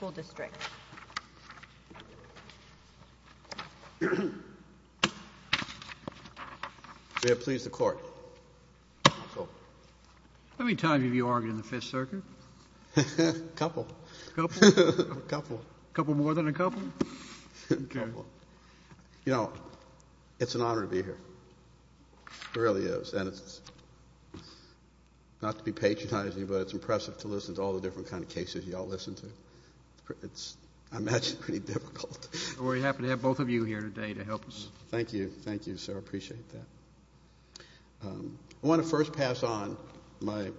We have pleased the court. How many times have you argued in the Fifth Circuit? A couple. A couple? A couple. A couple more than a couple? You know, it's an honor to be here. It really is. And it's, not to be patronizing, but it's impressive to listen to all the different kinds of cases you all listen to. It's, I imagine, pretty difficult. We're happy to have both of you here today to help us. Thank you. Thank you, sir. I appreciate that. I want to first pass on my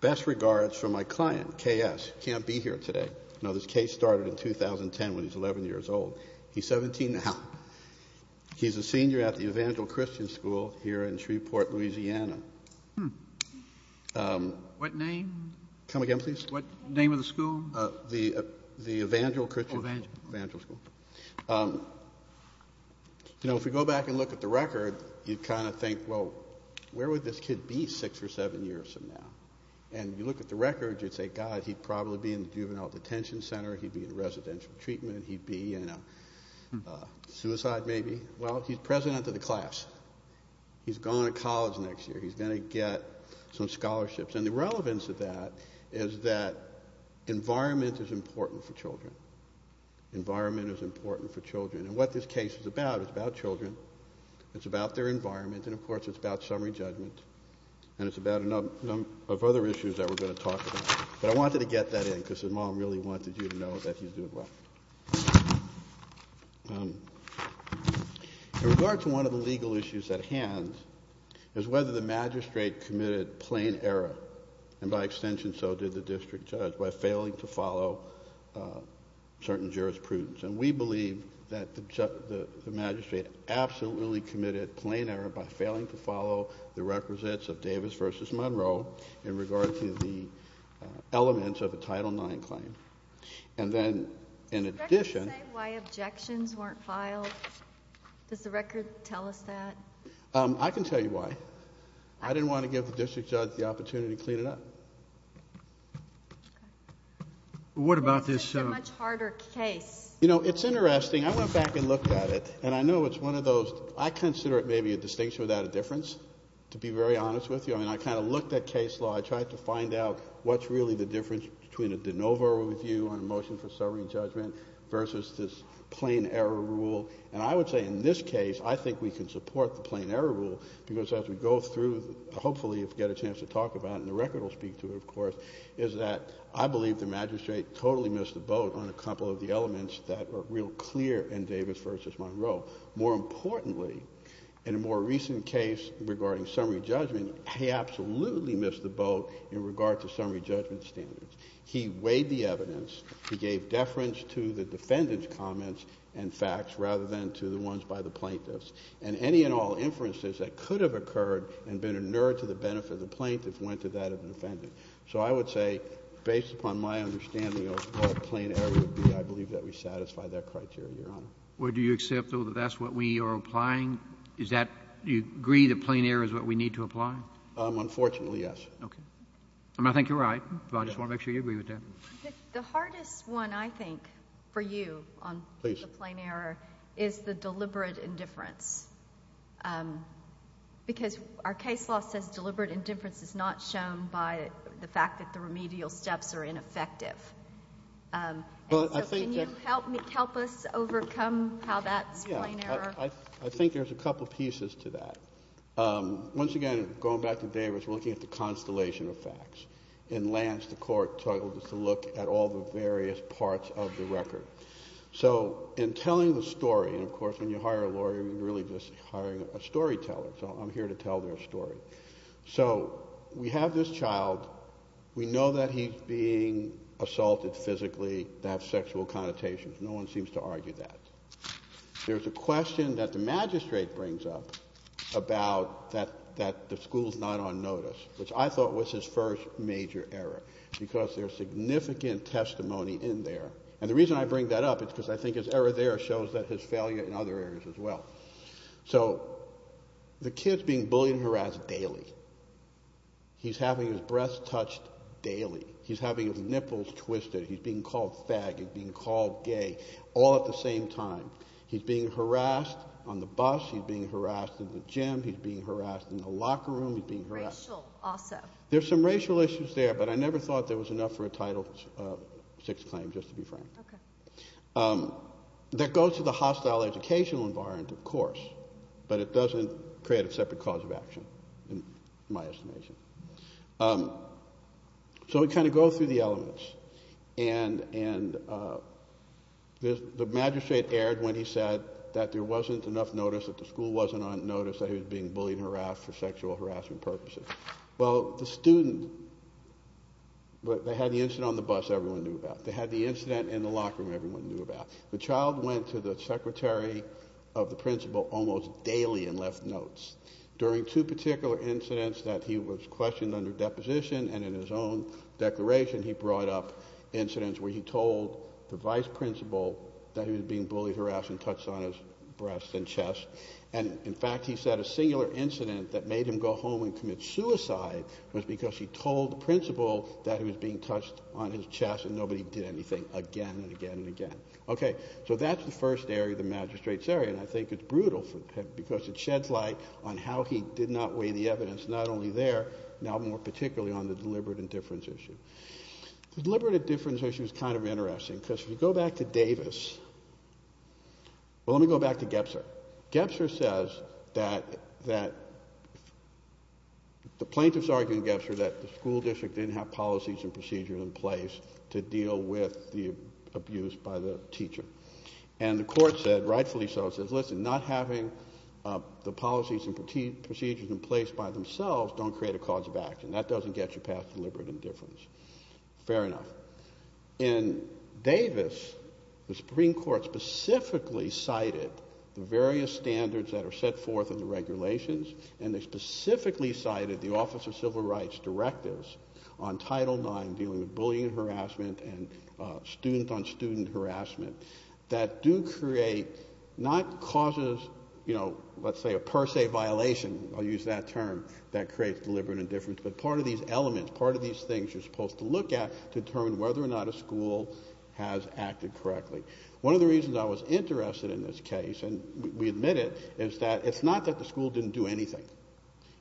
best regards for my client, K.S., who can't be here today. You know, this case started in 2010 when he was 11 years old. He's 17 now. He's a senior at the Evangelical Christian School here in Shreveport, Louisiana. What name? Come again, please? What name of the school? The Evangelical Christian School. Evangelical. Evangelical School. You know, if you go back and look at the record, you kind of think, well, where would this kid be six or seven years from now? And you look at the record, you'd say, God, he'd probably be in the juvenile detention center. He'd be in residential treatment. He'd be in a suicide, maybe. Well, he's president of the class. He's going to college next year. He's going to get some scholarships. And the relevance of that is that environment is important for children. Environment is important for children. And what this case is about is about children. It's about their environment. And, of course, it's about summary judgment. And it's about a number of other issues that we're going to talk about. But I wanted to get that in because his mom really wanted you to know that he's doing well. In regard to one of the legal issues at hand is whether the magistrate committed plain error, and by extension so did the district judge, by failing to follow certain jurisprudence. And we believe that the magistrate absolutely committed plain error by failing to follow the requisites of Davis v. Monroe in regard to the elements of a Title IX claim. And then in addition... Can you say why objections weren't filed? Does the record tell us that? I can tell you why. I didn't want to give the district judge the opportunity to clean it up. What about this... This is a much harder case. You know, it's interesting. I went back and looked at it, and I know it's one of those... I consider it maybe a distinction without a difference, to be very honest with you. I mean, I kind of looked at case law. I tried to find out what's really the difference between a de novo review on a motion for summary judgment versus this plain error rule. And I would say in this case, I think we can support the plain error rule, because as we go through, hopefully you'll get a chance to talk about it, and the record will speak to it, of course, is that I believe the magistrate totally missed the boat on a couple of the elements that are real clear in Davis v. Monroe. More importantly, in a more recent case regarding summary judgment, he absolutely missed the boat in regard to summary judgment standards. He weighed the evidence. He gave deference to the defendant's comments and facts rather than to the ones by the plaintiffs. And any and all inferences that could have occurred and been inured to the benefit of the plaintiff went to that of the defendant. So I would say, based upon my understanding of what a plain error would be, I believe that we satisfy that criteria, Your Honor. Where do you accept, though, that that's what we are applying? Is that you agree that plain error is what we need to apply? Unfortunately, yes. Okay. I mean, I think you're right, but I just want to make sure you agree with that. The hardest one, I think, for you on the plain error is the deliberate indifference. Because our case law says deliberate indifference is not shown by the fact that the remedial steps are ineffective. And so can you help us overcome how that's plain error? I think there's a couple pieces to that. Once again, going back to Davis, we're looking at the constellation of facts. And Lance, the court, told us to look at all the various parts of the record. So in telling the story, and, of course, when you hire a lawyer, you're really just hiring a storyteller. So I'm here to tell their story. So we have this child. We know that he's being assaulted physically to have sexual connotations. No one seems to argue that. There's a question that the magistrate brings up about that the school's not on notice, which I thought was his first major error, because there's significant testimony in there. And the reason I bring that up is because I think his error there shows that his failure in other areas as well. So the kid's being bullied and harassed daily. He's having his breasts touched daily. He's having his nipples twisted. He's being called faggot, being called gay, all at the same time. He's being harassed on the bus. He's being harassed in the gym. He's being harassed in the locker room. He's being harassed. Racial also. There's some racial issues there, but I never thought there was enough for a Title VI claim, just to be frank. Okay. That goes to the hostile educational environment, of course, but it doesn't create a separate cause of action, in my estimation. So we kind of go through the elements. And the magistrate erred when he said that there wasn't enough notice, that the school wasn't on notice, that he was being bullied and harassed for sexual harassment purposes. Well, the student, they had the incident on the bus, everyone knew about. They had the incident in the locker room, everyone knew about. The child went to the secretary of the principal almost daily and left notes. During two particular incidents that he was questioned under deposition, and in his own declaration he brought up incidents where he told the vice principal that he was being bullied, harassed, and touched on his breasts and chest. And, in fact, he said a singular incident that made him go home and commit suicide was because he told the principal that he was being touched on his chest and nobody did anything again and again and again. So that's the first area, the magistrate's area, and I think it's brutal because it sheds light on how he did not weigh the evidence, not only there, now more particularly on the deliberate indifference issue. The deliberate indifference issue is kind of interesting because if you go back to Davis, well, let me go back to Gebser. Gebser says that the plaintiffs argued in Gebser that the school district didn't have policies and procedures in place to deal with the abuse by the teacher. And the court said, rightfully so, says, listen, not having the policies and procedures in place by themselves don't create a cause of action. That doesn't get you past deliberate indifference. Fair enough. In Davis, the Supreme Court specifically cited the various standards that are set forth in the regulations, and they specifically cited the Office of Civil Rights directives on Title IX dealing with bullying and harassment and student-on-student harassment that do create, not causes, you know, let's say a per se violation, I'll use that term, that creates deliberate indifference, but part of these elements, part of these things you're supposed to look at to determine whether or not a school has acted correctly. One of the reasons I was interested in this case, and we admit it, is that it's not that the school didn't do anything.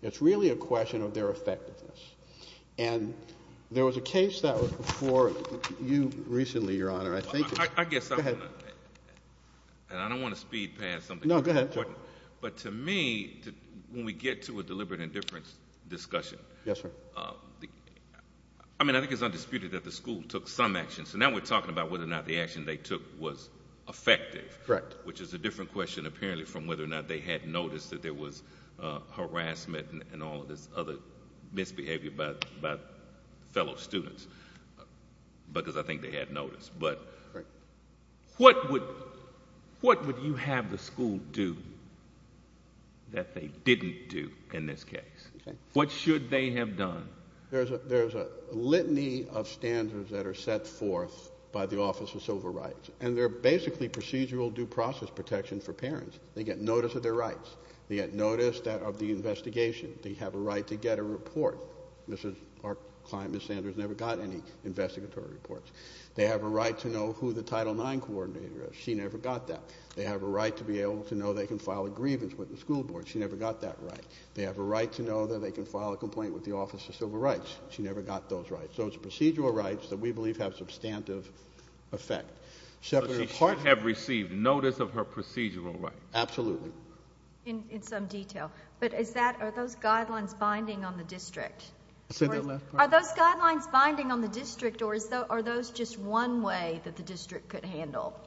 It's really a question of their effectiveness. And there was a case that was before you recently, Your Honor. Thank you. Go ahead. And I don't want to speed past something. No, go ahead. But to me, when we get to a deliberate indifference discussion, Yes, sir. I mean, I think it's undisputed that the school took some action. So now we're talking about whether or not the action they took was effective. Correct. Which is a different question, apparently, from whether or not they had noticed that there was harassment and all of this other misbehavior about fellow students. Because I think they had noticed. But what would you have the school do that they didn't do in this case? What should they have done? There's a litany of standards that are set forth by the Office of Civil Rights, and they're basically procedural due process protection for parents. They get notice of their rights. They get notice of the investigation. They have a right to get a report. Our client, Ms. Sanders, never got any investigatory reports. They have a right to know who the Title IX coordinator is. She never got that. They have a right to be able to know they can file a grievance with the school board. She never got that right. They have a right to know that they can file a complaint with the Office of Civil Rights. She never got those rights. So it's procedural rights that we believe have substantive effect. So she should have received notice of her procedural rights. Absolutely. In some detail. But are those guidelines binding on the district? Are those guidelines binding on the district, or are those just one way that the district could handle?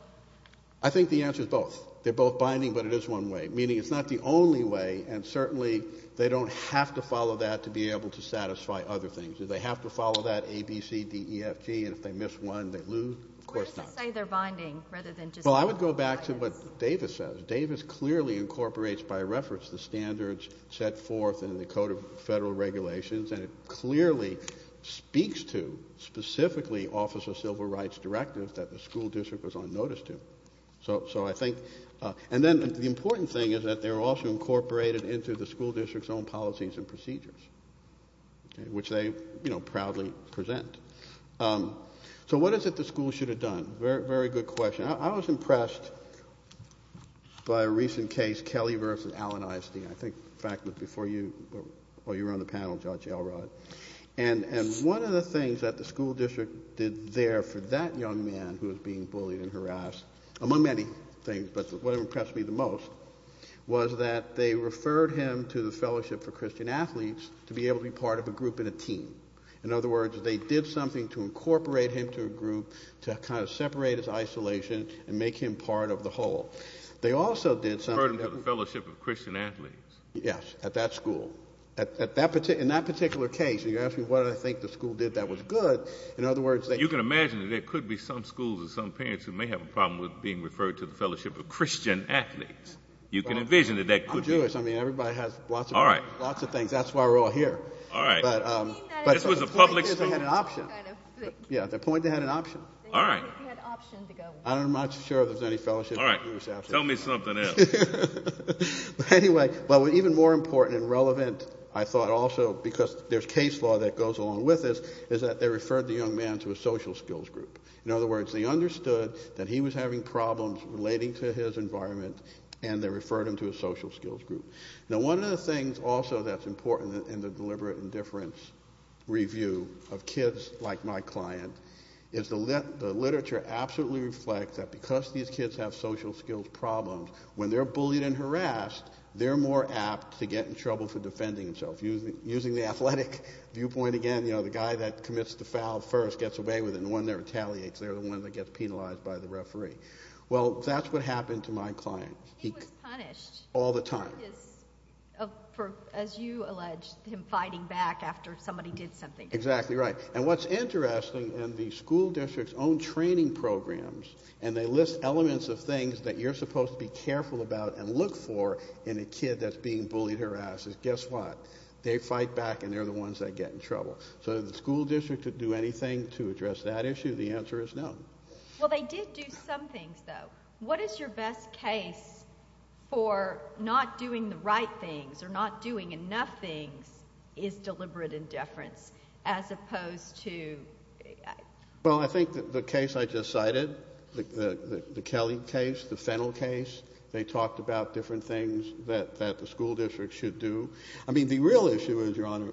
I think the answer is both. They're both binding, but it is one way, meaning it's not the only way, and certainly they don't have to follow that to be able to satisfy other things. Do they have to follow that A, B, C, D, E, F, G, and if they miss one, they lose? Of course not. Where does it say they're binding rather than just one? Well, I would go back to what Davis says. I think, by reference, the standards set forth in the Code of Federal Regulations, and it clearly speaks to specifically Office of Civil Rights directive that the school district was on notice to. And then the important thing is that they're also incorporated into the school district's own policies and procedures, which they proudly present. So what is it the school should have done? Very good question. I was impressed by a recent case, Kelly v. Allen ISD. I think, in fact, before you were on the panel, Judge Elrod. And one of the things that the school district did there for that young man who was being bullied and harassed, among many things, but what impressed me the most was that they referred him to the Fellowship for Christian Athletes to be able to be part of a group and a team. In other words, they did something to incorporate him to a group to kind of separate his isolation and make him part of the whole. They also did something. Referred him to the Fellowship of Christian Athletes. Yes, at that school. In that particular case, you asked me what I think the school did that was good. In other words, they... You can imagine that there could be some schools or some parents who may have a problem with being referred to the Fellowship of Christian Athletes. You can envision that that could be. I'm Jewish. I mean, everybody has lots of things. All right. That's why we're all here. All right. But the point is they had an option. Yeah, the point is they had an option. All right. I'm not sure if there's any fellowship. All right. Tell me something else. But anyway, even more important and relevant, I thought also, because there's case law that goes along with this, is that they referred the young man to a social skills group. In other words, they understood that he was having problems relating to his environment, and they referred him to a social skills group. Now, one of the things also that's important in the deliberate indifference review of kids like my client is the literature absolutely reflects that because these kids have social skills problems, when they're bullied and harassed, they're more apt to get in trouble for defending themselves. Using the athletic viewpoint again, you know, the guy that commits the foul first gets away with it, and the one that retaliates, they're the ones that get penalized by the referee. Well, that's what happened to my client. He was punished. All the time. For, as you allege, him fighting back after somebody did something to him. Exactly right. And what's interesting in the school district's own training programs, and they list elements of things that you're supposed to be careful about and look for in a kid that's being bullied or harassed, is guess what? They fight back, and they're the ones that get in trouble. So did the school district do anything to address that issue? The answer is no. Well, they did do some things, though. What is your best case for not doing the right things or not doing enough things is deliberate indifference as opposed to? Well, I think the case I just cited, the Kelly case, the Fennell case, they talked about different things that the school district should do. I mean, the real issue is, Your Honor,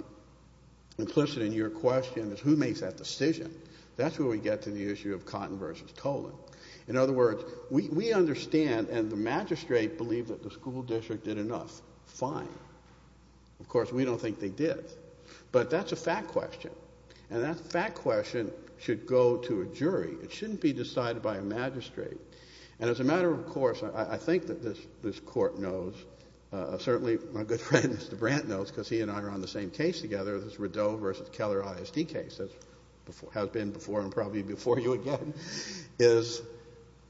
implicit in your question is who makes that decision. That's where we get to the issue of Cotton versus Tolan. In other words, we understand, and the magistrate believed that the school district did enough. Fine. Of course, we don't think they did. But that's a fact question, and that fact question should go to a jury. It shouldn't be decided by a magistrate. And as a matter of course, I think that this court knows, certainly my good friend Mr. Brandt knows, because he and I are on the same case together, this Rideau versus Keller ISD case, which has been before and probably before you again, is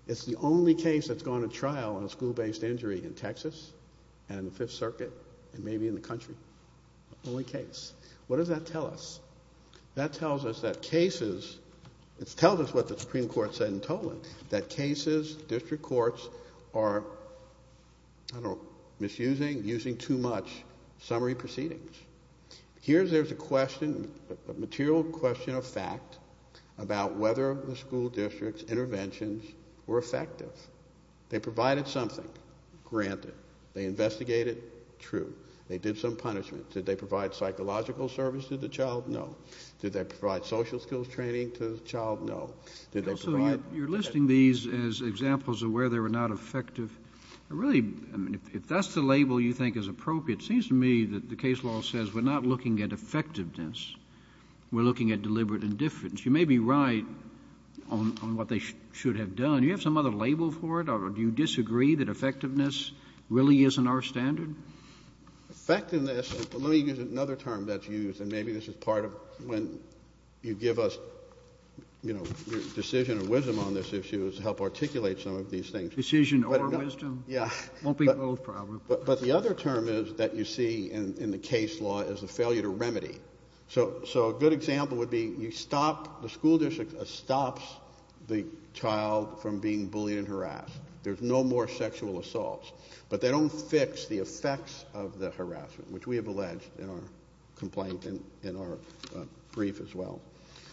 it's the only case that's gone to trial on a school-based injury in Texas and the Fifth Circuit and maybe in the country. The only case. What does that tell us? That tells us that cases, it tells us what the Supreme Court said in Tolan, that cases, district courts are, I don't know, misusing, using too much summary proceedings. Here there's a question, a material question of fact, about whether the school district's interventions were effective. They provided something. Granted. They investigated. True. They did some punishment. Did they provide psychological service to the child? No. Did they provide social skills training to the child? No. Did they provide- So you're listing these as examples of where they were not effective. Really, if that's the label you think is appropriate, it seems to me that the case law says we're not looking at effectiveness. We're looking at deliberate indifference. You may be right on what they should have done. Do you have some other label for it or do you disagree that effectiveness really isn't our standard? Effectiveness, let me use another term that's used and maybe this is part of when you give us, you know, decision or wisdom on this issue is to help articulate some of these things. Decision or wisdom? Yeah. Won't be both probably. But the other term is that you see in the case law is the failure to remedy. So a good example would be you stop, the school district stops the child from being bullied and harassed. There's no more sexual assaults. But they don't fix the effects of the harassment, which we have alleged in our complaint and in our brief as well.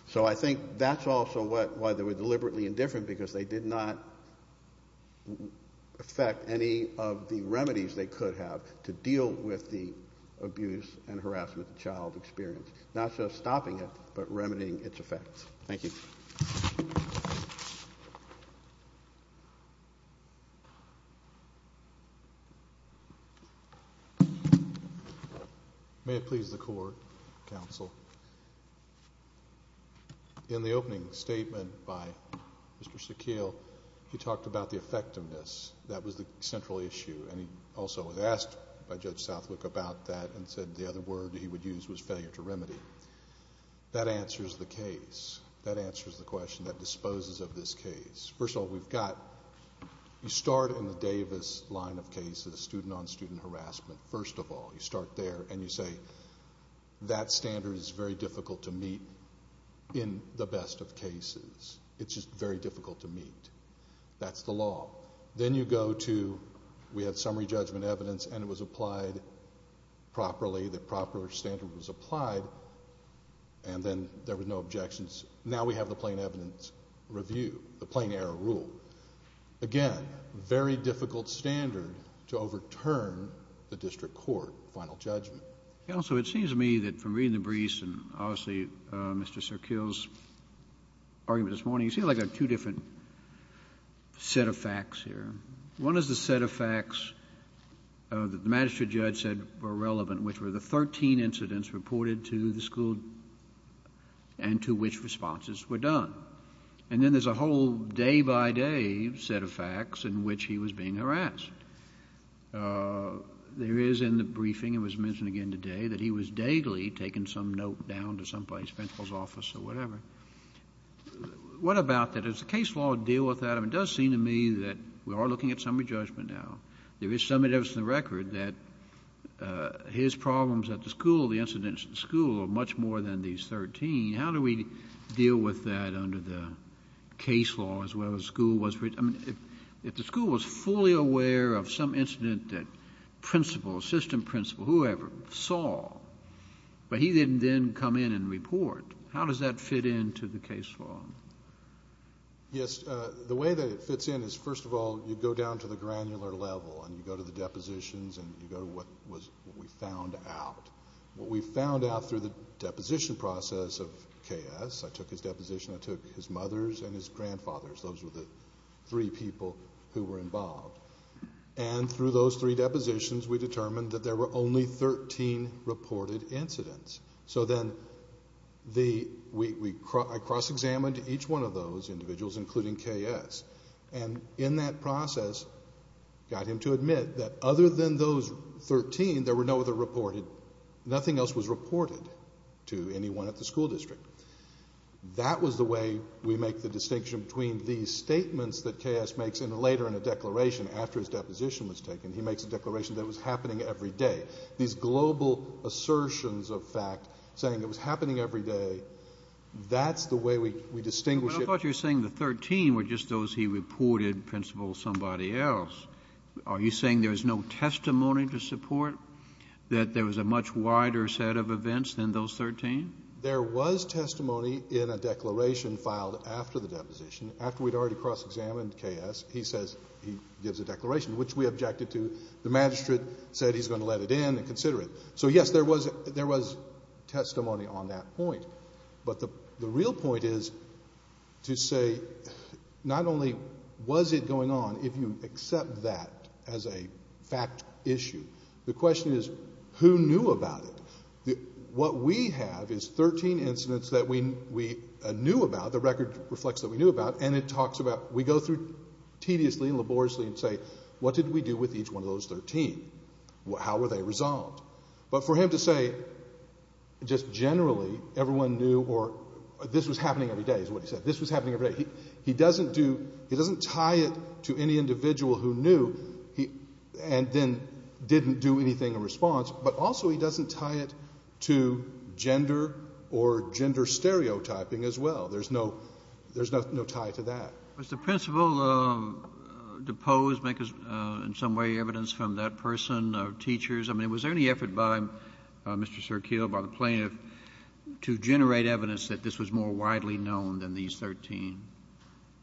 So I think that's also why they were deliberately indifferent because they did not affect any of the remedies they could have to deal with the abuse and harassment the child experienced. Not just stopping it, but remedying its effects. Thank you. Thank you. May it please the Court, Counsel. In the opening statement by Mr. Sakeel, he talked about the effectiveness. That was the central issue, and he also was asked by Judge Southwick about that and said the other word he would use was failure to remedy. That answers the case. That answers the question that disposes of this case. First of all, we've got, you start in the Davis line of cases, student-on-student harassment, first of all. You start there, and you say that standard is very difficult to meet in the best of cases. It's just very difficult to meet. That's the law. Then you go to, we had summary judgment evidence, and it was applied properly. The proper standard was applied, and then there were no objections. Now we have the plain evidence review, the plain error rule. Again, very difficult standard to overturn the district court final judgment. Counsel, it seems to me that from reading the briefs and obviously Mr. Sakeel's argument this morning, you seem like there are two different set of facts here. One is the set of facts that the magistrate judge said were relevant, which were the 13 incidents reported to the school and to which responses were done. And then there's a whole day-by-day set of facts in which he was being harassed. There is in the briefing, it was mentioned again today, that he was daily taking some note down to somebody's principal's office or whatever. What about that? How does the case law deal with that? It does seem to me that we are looking at summary judgment now. There is some evidence in the record that his problems at the school, the incident at the school, are much more than these 13. How do we deal with that under the case law as well as the school? If the school was fully aware of some incident that principal, assistant principal, whoever, saw, but he didn't then come in and report, how does that fit into the case law? Yes. The way that it fits in is, first of all, you go down to the granular level and you go to the depositions and you go to what we found out. What we found out through the deposition process of K.S. I took his deposition. I took his mother's and his grandfather's. Those were the three people who were involved. Through those three depositions, we determined that there were only 13 reported incidents. Then I cross-examined each one of those individuals, including K.S., and in that process got him to admit that other than those 13, there were no other reported. Nothing else was reported to anyone at the school district. That was the way we make the distinction between these statements that K.S. makes later in a declaration after his deposition was taken. He makes a declaration that it was happening every day. These global assertions of fact saying it was happening every day, that's the way we distinguish it. Well, I thought you were saying the 13 were just those he reported, principal, somebody else. Are you saying there is no testimony to support that there was a much wider set of events than those 13? There was testimony in a declaration filed after the deposition. After we'd already cross-examined K.S., he says he gives a declaration, which we objected to. The magistrate said he's going to let it in and consider it. So, yes, there was testimony on that point. But the real point is to say not only was it going on, if you accept that as a fact issue, the question is who knew about it. What we have is 13 incidents that we knew about, the record reflects that we knew about, and it talks about we go through tediously and laboriously and say what did we do with each one of those 13? How were they resolved? But for him to say just generally everyone knew or this was happening every day is what he said. This was happening every day. He doesn't tie it to any individual who knew and then didn't do anything in response, but also he doesn't tie it to gender or gender stereotyping as well. There's no tie to that. Was the principal deposed, make, in some way, evidence from that person or teachers? I mean, was there any effort by Mr. Sirkeel, by the plaintiff, to generate evidence that this was more widely known than these 13?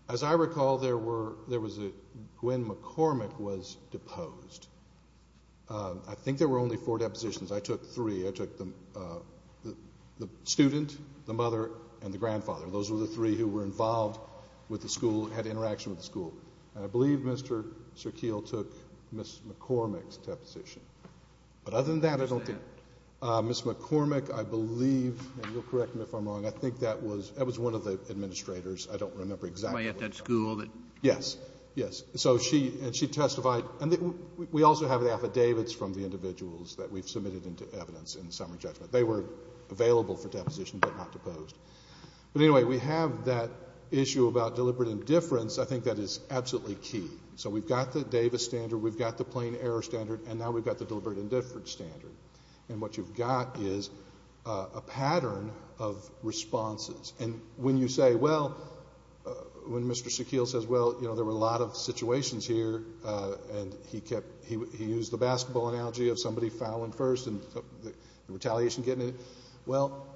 As I recall, there were — there was a — Gwen McCormick was deposed. I think there were only four depositions. I took three. I took the student, the mother, and the grandfather. Those were the three who were involved with the school, had interaction with the school. And I believe Mr. Sirkeel took Ms. McCormick's deposition. But other than that, I don't think — Who was that? Ms. McCormick, I believe, and you'll correct me if I'm wrong, I think that was — that was one of the administrators. I don't remember exactly. The one at that school that — Yes. Yes. So she testified. And we also have the affidavits from the individuals that we've submitted into evidence in the summary judgment. They were available for deposition but not deposed. But anyway, we have that issue about deliberate indifference. I think that is absolutely key. So we've got the Davis standard, we've got the plain error standard, and now we've got the deliberate indifference standard. And what you've got is a pattern of responses. And when you say, well, when Mr. Sirkeel says, well, you know, there were a lot of situations here, and he kept — he used the basketball analogy of somebody fouling first and retaliation getting in. Well,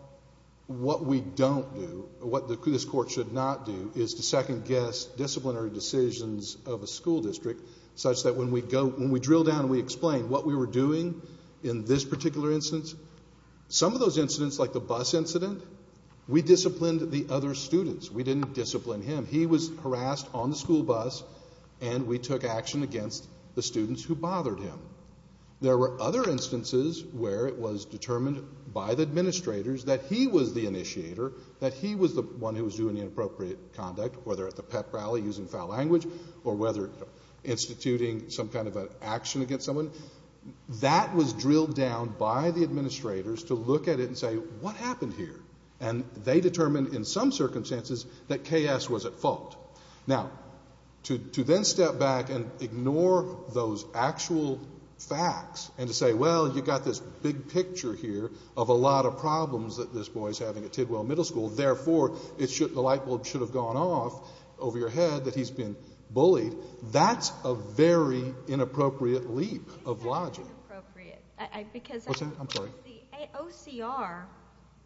what we don't do, what this court should not do, is to second-guess disciplinary decisions of a school district such that when we go — when we drill down and we explain what we were doing in this particular instance, some of those incidents, like the bus incident, we disciplined the other students. We didn't discipline him. He was harassed on the school bus, and we took action against the students who bothered him. There were other instances where it was determined by the administrators that he was the initiator, that he was the one who was doing the inappropriate conduct, whether at the pep rally using foul language or whether instituting some kind of an action against someone. That was drilled down by the administrators to look at it and say, what happened here? And they determined in some circumstances that K.S. was at fault. Now, to then step back and ignore those actual facts and to say, well, you've got this big picture here of a lot of problems that this boy is having at Tidwell Middle School, therefore the light bulb should have gone off over your head that he's been bullied, that's a very inappropriate leap of logic. It is inappropriate because the OCR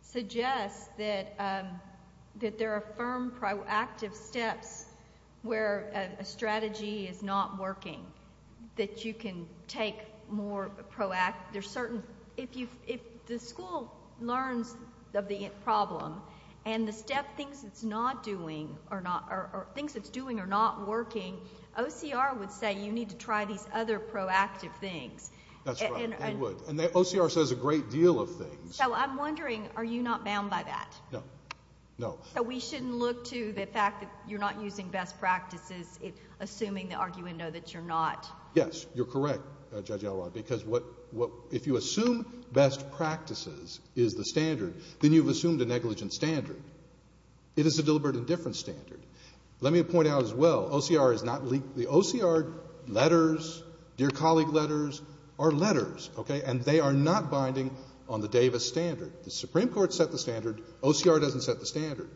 suggests that there are firm proactive steps where a strategy is not working, that you can take more proactive, there's certain, if the school learns of the problem and the step, things it's not doing, or things it's doing are not working, OCR would say you need to try these other proactive things. That's right. They would. And OCR says a great deal of things. So I'm wondering, are you not bound by that? No. No. So we shouldn't look to the fact that you're not using best practices, assuming the argument, no, that you're not. Yes. You're correct, Judge Elrod, because if you assume best practices is the standard, then you've assumed a negligent standard. It is a deliberate indifference standard. Let me point out as well, OCR is not, the OCR letters, dear colleague letters, are letters, okay, and they are not binding on the Davis standard. The Supreme Court set the standard, OCR doesn't set the standard.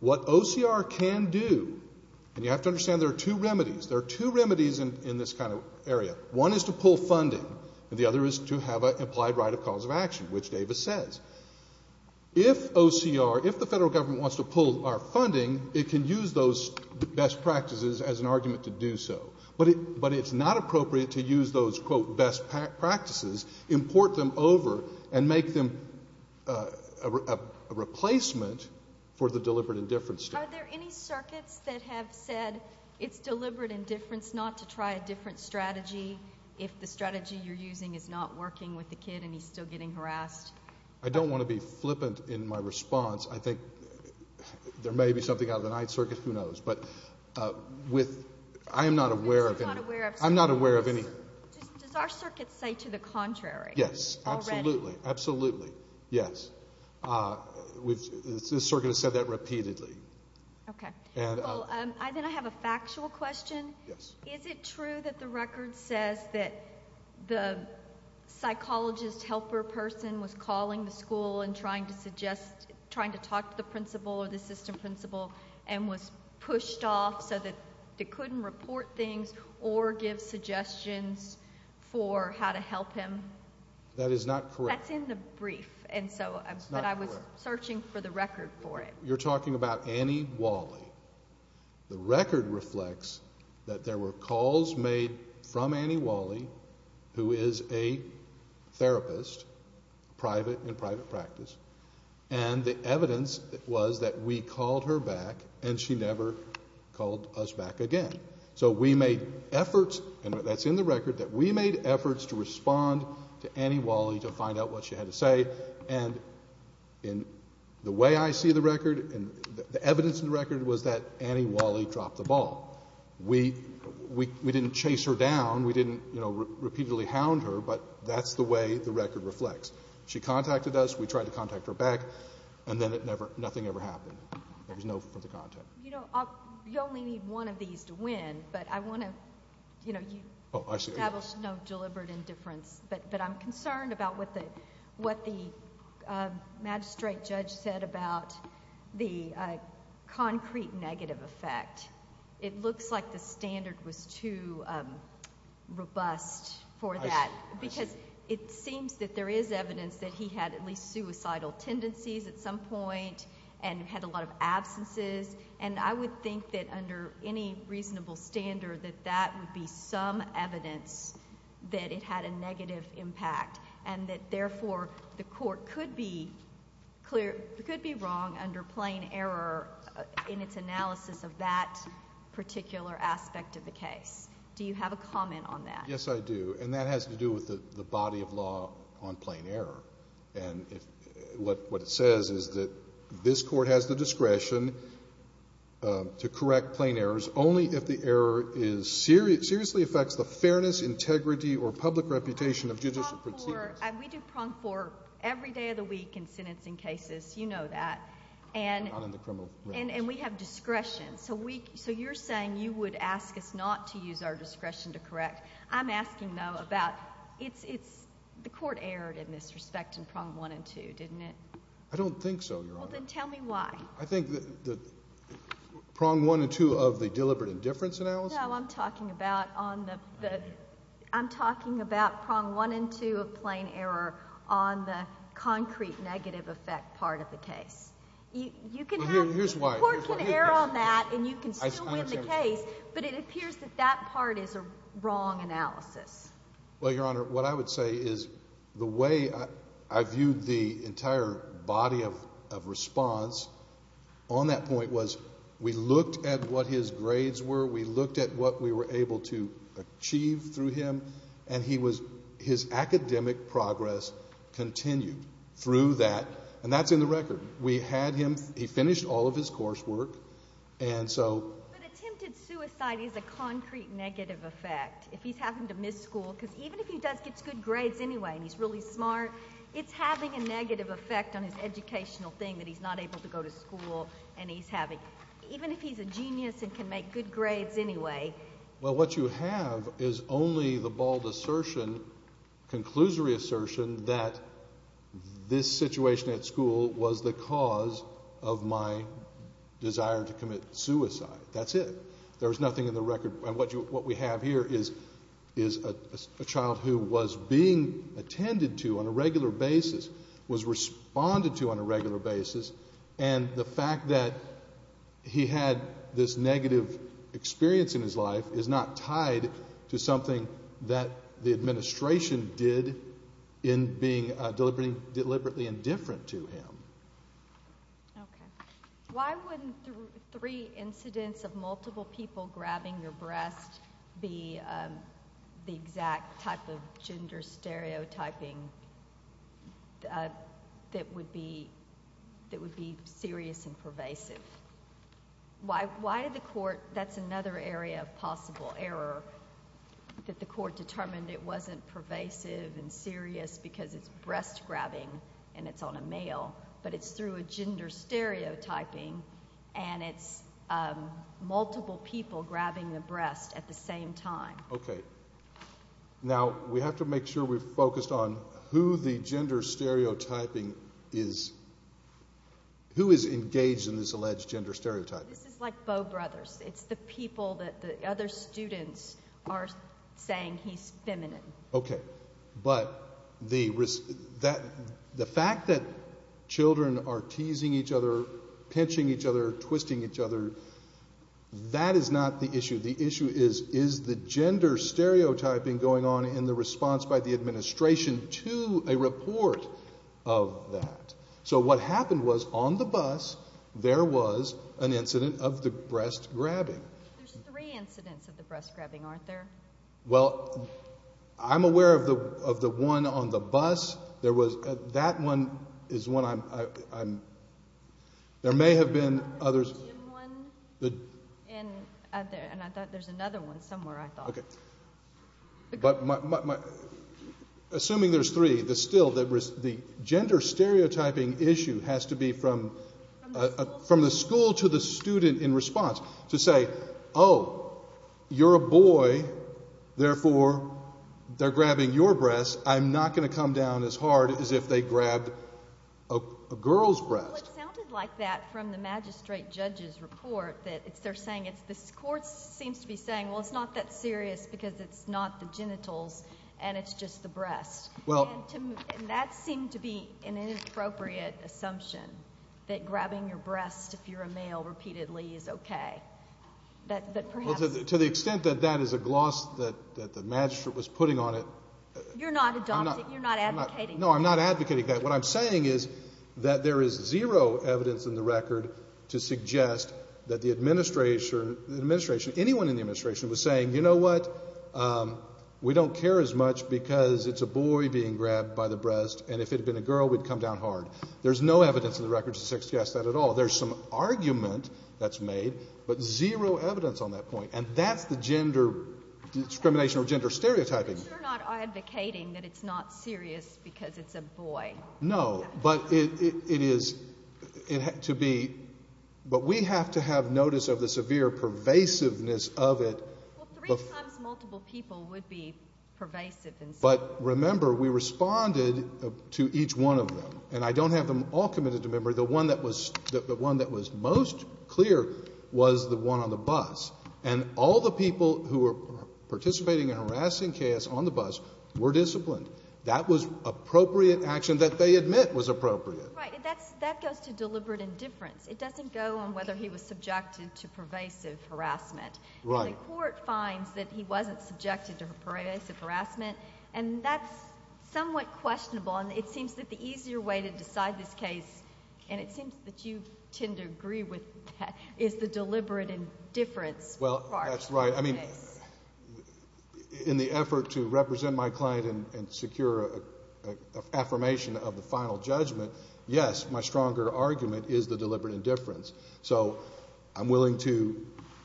What OCR can do, and you have to understand there are two remedies, there are two remedies in this kind of area. One is to pull funding, and the other is to have an implied right of cause of action, which Davis says. If OCR, if the Federal Government wants to pull our funding, it can use those best practices as an argument to do so. But it's not appropriate to use those, quote, best practices, import them over, and make them a replacement for the deliberate indifference standard. If the strategy you're using is not working with the kid and he's still getting harassed? I don't want to be flippant in my response. I think there may be something out of the Ninth Circuit, who knows, but I am not aware of any. I'm not aware of any. Does our circuit say to the contrary? Yes, absolutely, absolutely, yes. This circuit has said that repeatedly. Okay. Well, then I have a factual question. Yes. Is it true that the record says that the psychologist helper person was calling the school and trying to talk to the principal or the assistant principal and was pushed off so that they couldn't report things or give suggestions for how to help him? That is not correct. That's in the brief, but I was searching for the record for it. You're talking about Annie Wally. The record reflects that there were calls made from Annie Wally, who is a therapist, private and private practice, and the evidence was that we called her back and she never called us back again. So we made efforts, and that's in the record, that we made efforts to respond to Annie Wally to find out what she had to say, and the way I see the record and the evidence in the record was that Annie Wally dropped the ball. We didn't chase her down. We didn't, you know, repeatedly hound her, but that's the way the record reflects. She contacted us. We tried to contact her back, and then nothing ever happened. There was no further contact. You know, you only need one of these to win, but I want to, you know, you establish no deliberate indifference, but I'm concerned about what the magistrate judge said about the concrete negative effect. It looks like the standard was too robust for that, because it seems that there is evidence that he had at least suicidal tendencies at some point and had a lot of absences, and I would think that under any reasonable standard that that would be some evidence that it had a negative impact and that, therefore, the court could be wrong under plain error in its analysis of that particular aspect of the case. Do you have a comment on that? Yes, I do, and that has to do with the body of law on plain error, and what it says is that this court has the discretion to correct plain errors only if the error seriously affects the fairness, integrity, or public reputation of judicial proceedings. We do prong four every day of the week in sentencing cases. You know that. And we have discretion. So you're saying you would ask us not to use our discretion to correct. I'm asking, though, about the court erred in this respect in prong one and two, didn't it? I don't think so, Your Honor. Well, then tell me why. I think the prong one and two of the deliberate indifference analysis. No, I'm talking about on the prong one and two of plain error on the concrete negative effect part of the case. Here's why. The court can err on that and you can still win the case, but it appears that that part is a wrong analysis. Well, Your Honor, what I would say is the way I viewed the entire body of response on that point was we looked at what his grades were, we looked at what we were able to achieve through him, and his academic progress continued through that, and that's in the record. We had him. He finished all of his coursework, and so. But attempted suicide is a concrete negative effect. If he's having to miss school, because even if he does get good grades anyway and he's really smart, it's having a negative effect on his educational thing that he's not able to go to school and he's having. Even if he's a genius and can make good grades anyway. Well, what you have is only the bald assertion, conclusory assertion, that this situation at school was the cause of my desire to commit suicide. That's it. There's nothing in the record. And what we have here is a child who was being attended to on a regular basis, was responded to on a regular basis, and the fact that he had this negative experience in his life is not tied to something that the administration did in being deliberately indifferent to him. Okay. Why wouldn't three incidents of multiple people grabbing your breast be the exact type of gender stereotyping that would be serious and pervasive? Why did the court, that's another area of possible error, that the court determined it wasn't pervasive and serious because it's breast grabbing and it's on a male, but it's through a gender stereotyping and it's multiple people grabbing the breast at the same time. Okay. Now, we have to make sure we're focused on who the gender stereotyping is, who is engaged in this alleged gender stereotyping. This is like Bow Brothers. It's the people that the other students are saying he's feminine. Okay. But the fact that children are teasing each other, pinching each other, twisting each other, that is not the issue. The issue is, is the gender stereotyping going on in the response by the administration to a report of that? So what happened was, on the bus, there was an incident of the breast grabbing. There's three incidents of the breast grabbing, aren't there? Well, I'm aware of the one on the bus. That one is one I'm – there may have been others. And I thought there's another one somewhere, I thought. Okay. Assuming there's three, the still – the gender stereotyping issue has to be from the school to the student in response to say, oh, you're a boy, therefore they're grabbing your breast. I'm not going to come down as hard as if they grabbed a girl's breast. Well, it sounded like that from the magistrate judge's report that they're saying it's – and it's just the breast. And that seemed to be an inappropriate assumption, that grabbing your breast if you're a male repeatedly is okay. But perhaps – Well, to the extent that that is a gloss that the magistrate was putting on it – You're not adopting – you're not advocating that. No, I'm not advocating that. What I'm saying is that there is zero evidence in the record to suggest that the administration – they don't care as much because it's a boy being grabbed by the breast, and if it had been a girl, we'd come down hard. There's no evidence in the record to suggest that at all. There's some argument that's made, but zero evidence on that point. And that's the gender discrimination or gender stereotyping. But you're not advocating that it's not serious because it's a boy. No, but it is – it had to be – but we have to have notice of the severe pervasiveness of it. Well, three times multiple people would be pervasive in some way. But remember, we responded to each one of them. And I don't have them all committed to memory. The one that was most clear was the one on the bus. And all the people who were participating in harassing K.S. on the bus were disciplined. That was appropriate action that they admit was appropriate. Right. That goes to deliberate indifference. It doesn't go on whether he was subjected to pervasive harassment. Right. And the court finds that he wasn't subjected to pervasive harassment, and that's somewhat questionable. And it seems that the easier way to decide this case, and it seems that you tend to agree with that, is the deliberate indifference part of the case. Well, that's right. I mean, in the effort to represent my client and secure an affirmation of the final judgment, yes, my stronger argument is the deliberate indifference. So I'm willing to—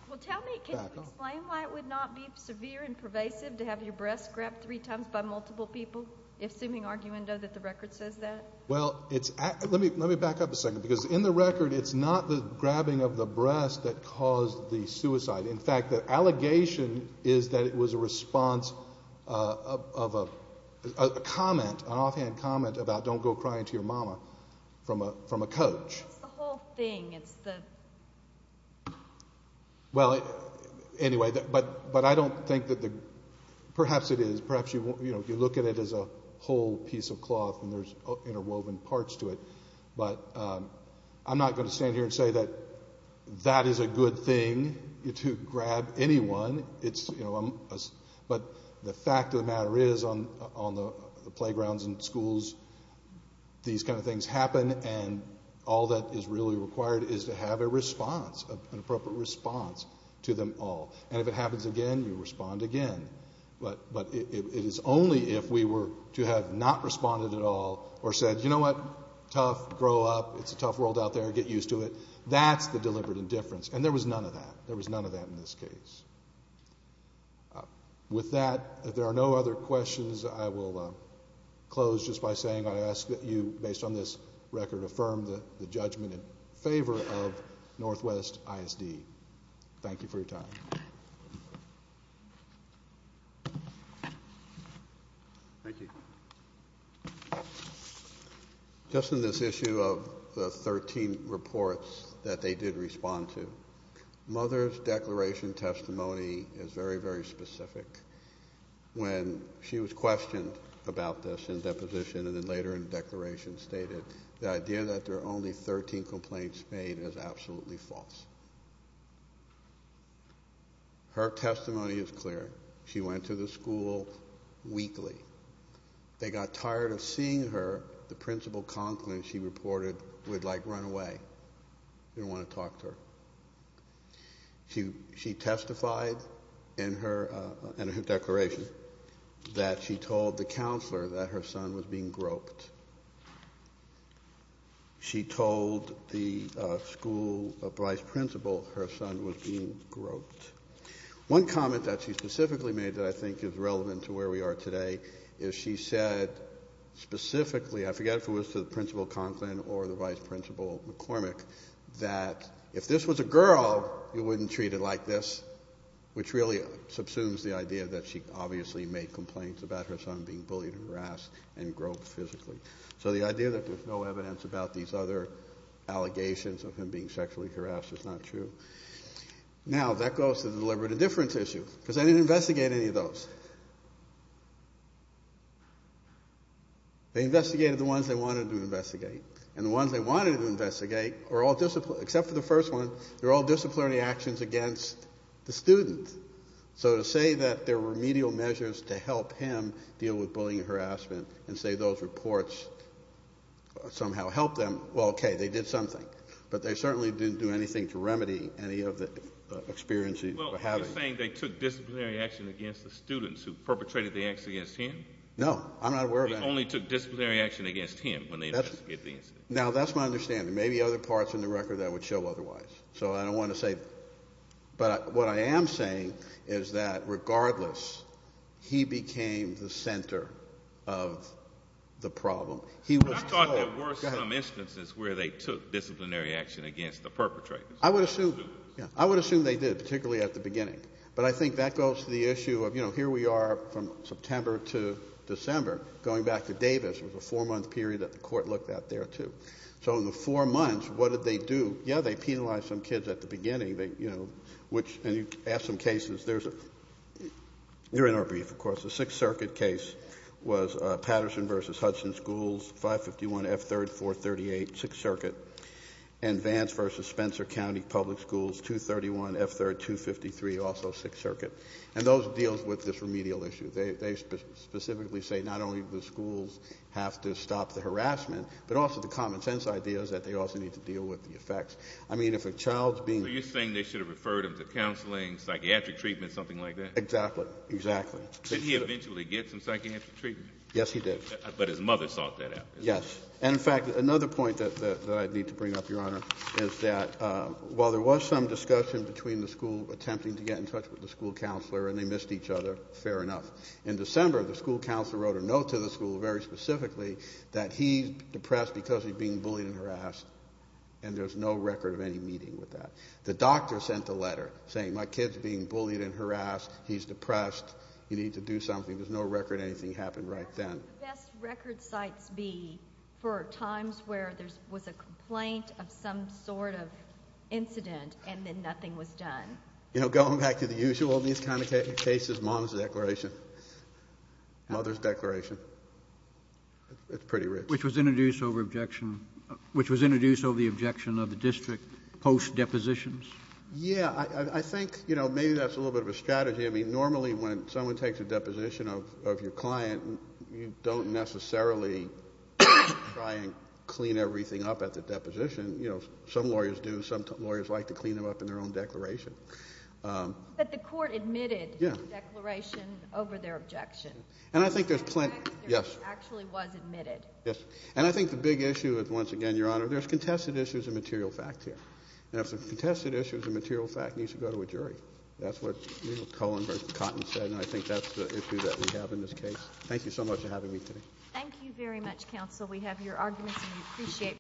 Well, tell me, can you explain why it would not be severe and pervasive to have your breast grabbed three times by multiple people, assuming, arguendo, that the record says that? Well, let me back up a second, because in the record it's not the grabbing of the breast that caused the suicide. In fact, the allegation is that it was a response of a comment, an offhand comment, about don't go crying to your mama from a coach. It's the whole thing. It's the— Well, anyway, but I don't think that the—perhaps it is. Perhaps you look at it as a whole piece of cloth, and there's interwoven parts to it. But I'm not going to stand here and say that that is a good thing to grab anyone. But the fact of the matter is, on the playgrounds in schools, these kind of things happen, and all that is really required is to have a response, an appropriate response to them all. And if it happens again, you respond again. But it is only if we were to have not responded at all or said, you know what, tough, grow up, it's a tough world out there, get used to it, that's the deliberate indifference. And there was none of that. There was none of that in this case. With that, if there are no other questions, I will close just by saying I ask that you, based on this record, affirm the judgment in favor of Northwest ISD. Thank you for your time. Thank you. Just in this issue of the 13 reports that they did respond to, Mother's declaration testimony is very, very specific. When she was questioned about this in deposition and then later in the declaration stated, the idea that there are only 13 complaints made is absolutely false. Her testimony is clear. She went to the school weekly. They got tired of seeing her. The principal, Conklin, she reported, would like run away. Didn't want to talk to her. She testified in her declaration that she told the counselor that her son was being groped. She told the school vice principal her son was being groped. One comment that she specifically made that I think is relevant to where we are today is she said specifically, I forget if it was to the principal, Conklin, or the vice principal, McCormick, that if this was a girl, you wouldn't treat her like this, which really subsumes the idea that she obviously made complaints about her son being bullied and harassed and groped physically. So the idea that there's no evidence about these other allegations of him being sexually harassed is not true. Now, that goes to the deliberate indifference issue, because they didn't investigate any of those. They investigated the ones they wanted to investigate. And the ones they wanted to investigate are all, except for the first one, they're all disciplinary actions against the student. So to say that there were remedial measures to help him deal with bullying and harassment and say those reports somehow helped them, well, okay, they did something. But they certainly didn't do anything to remedy any of the experience he was having. Well, you're saying they took disciplinary action against the students who perpetrated the acts against him? No, I'm not aware of that. They only took disciplinary action against him when they investigated the incident. Now, that's my understanding. Maybe other parts in the record that would show otherwise. So I don't want to say that. But what I am saying is that regardless, he became the center of the problem. I thought there were some instances where they took disciplinary action against the perpetrators. I would assume they did, particularly at the beginning. But I think that goes to the issue of, you know, here we are from September to December. Going back to Davis, it was a four-month period that the court looked at there, too. So in the four months, what did they do? Yeah, they penalized some kids at the beginning. And you ask some cases. They're in our brief, of course. The Sixth Circuit case was Patterson v. Hudson Schools, 551 F. 3rd, 438, Sixth Circuit. And Vance v. Spencer County Public Schools, 231 F. 3rd, 253, also Sixth Circuit. And those deal with this remedial issue. They specifically say not only do schools have to stop the harassment, but also the common sense idea is that they also need to deal with the effects. I mean, if a child's being ---- So you're saying they should have referred him to counseling, psychiatric treatment, something like that? Exactly. Exactly. Did he eventually get some psychiatric treatment? Yes, he did. But his mother sought that out. Yes. And, in fact, another point that I need to bring up, Your Honor, is that while there was some discussion between the school attempting to get in touch with the school counselor and they missed each other, fair enough, in December the school counselor wrote a note to the school very specifically that he's depressed because he's being bullied and harassed, and there's no record of any meeting with that. The doctor sent a letter saying my kid's being bullied and harassed, he's depressed, you need to do something. There's no record anything happened right then. What would the best record sites be for times where there was a complaint of some sort of incident and then nothing was done? You know, going back to the usual, these kind of cases, mom's declaration, mother's declaration. It's pretty rich. Which was introduced over objection of the district post-depositions? Yeah. I think, you know, maybe that's a little bit of a strategy. I mean, normally when someone takes a deposition of your client, you don't necessarily try and clean everything up at the deposition. You know, some lawyers do. Some lawyers like to clean them up in their own declaration. But the court admitted the declaration over their objection. And I think there's plenty. In fact, there actually was admitted. Yes. And I think the big issue is, once again, Your Honor, there's contested issues of material fact here. And if the contested issue is a material fact, it needs to go to a jury. That's what Colin Cotton said, and I think that's the issue that we have in this case. Thank you so much for having me today. Thank you very much, counsel. We have your arguments, and we appreciate.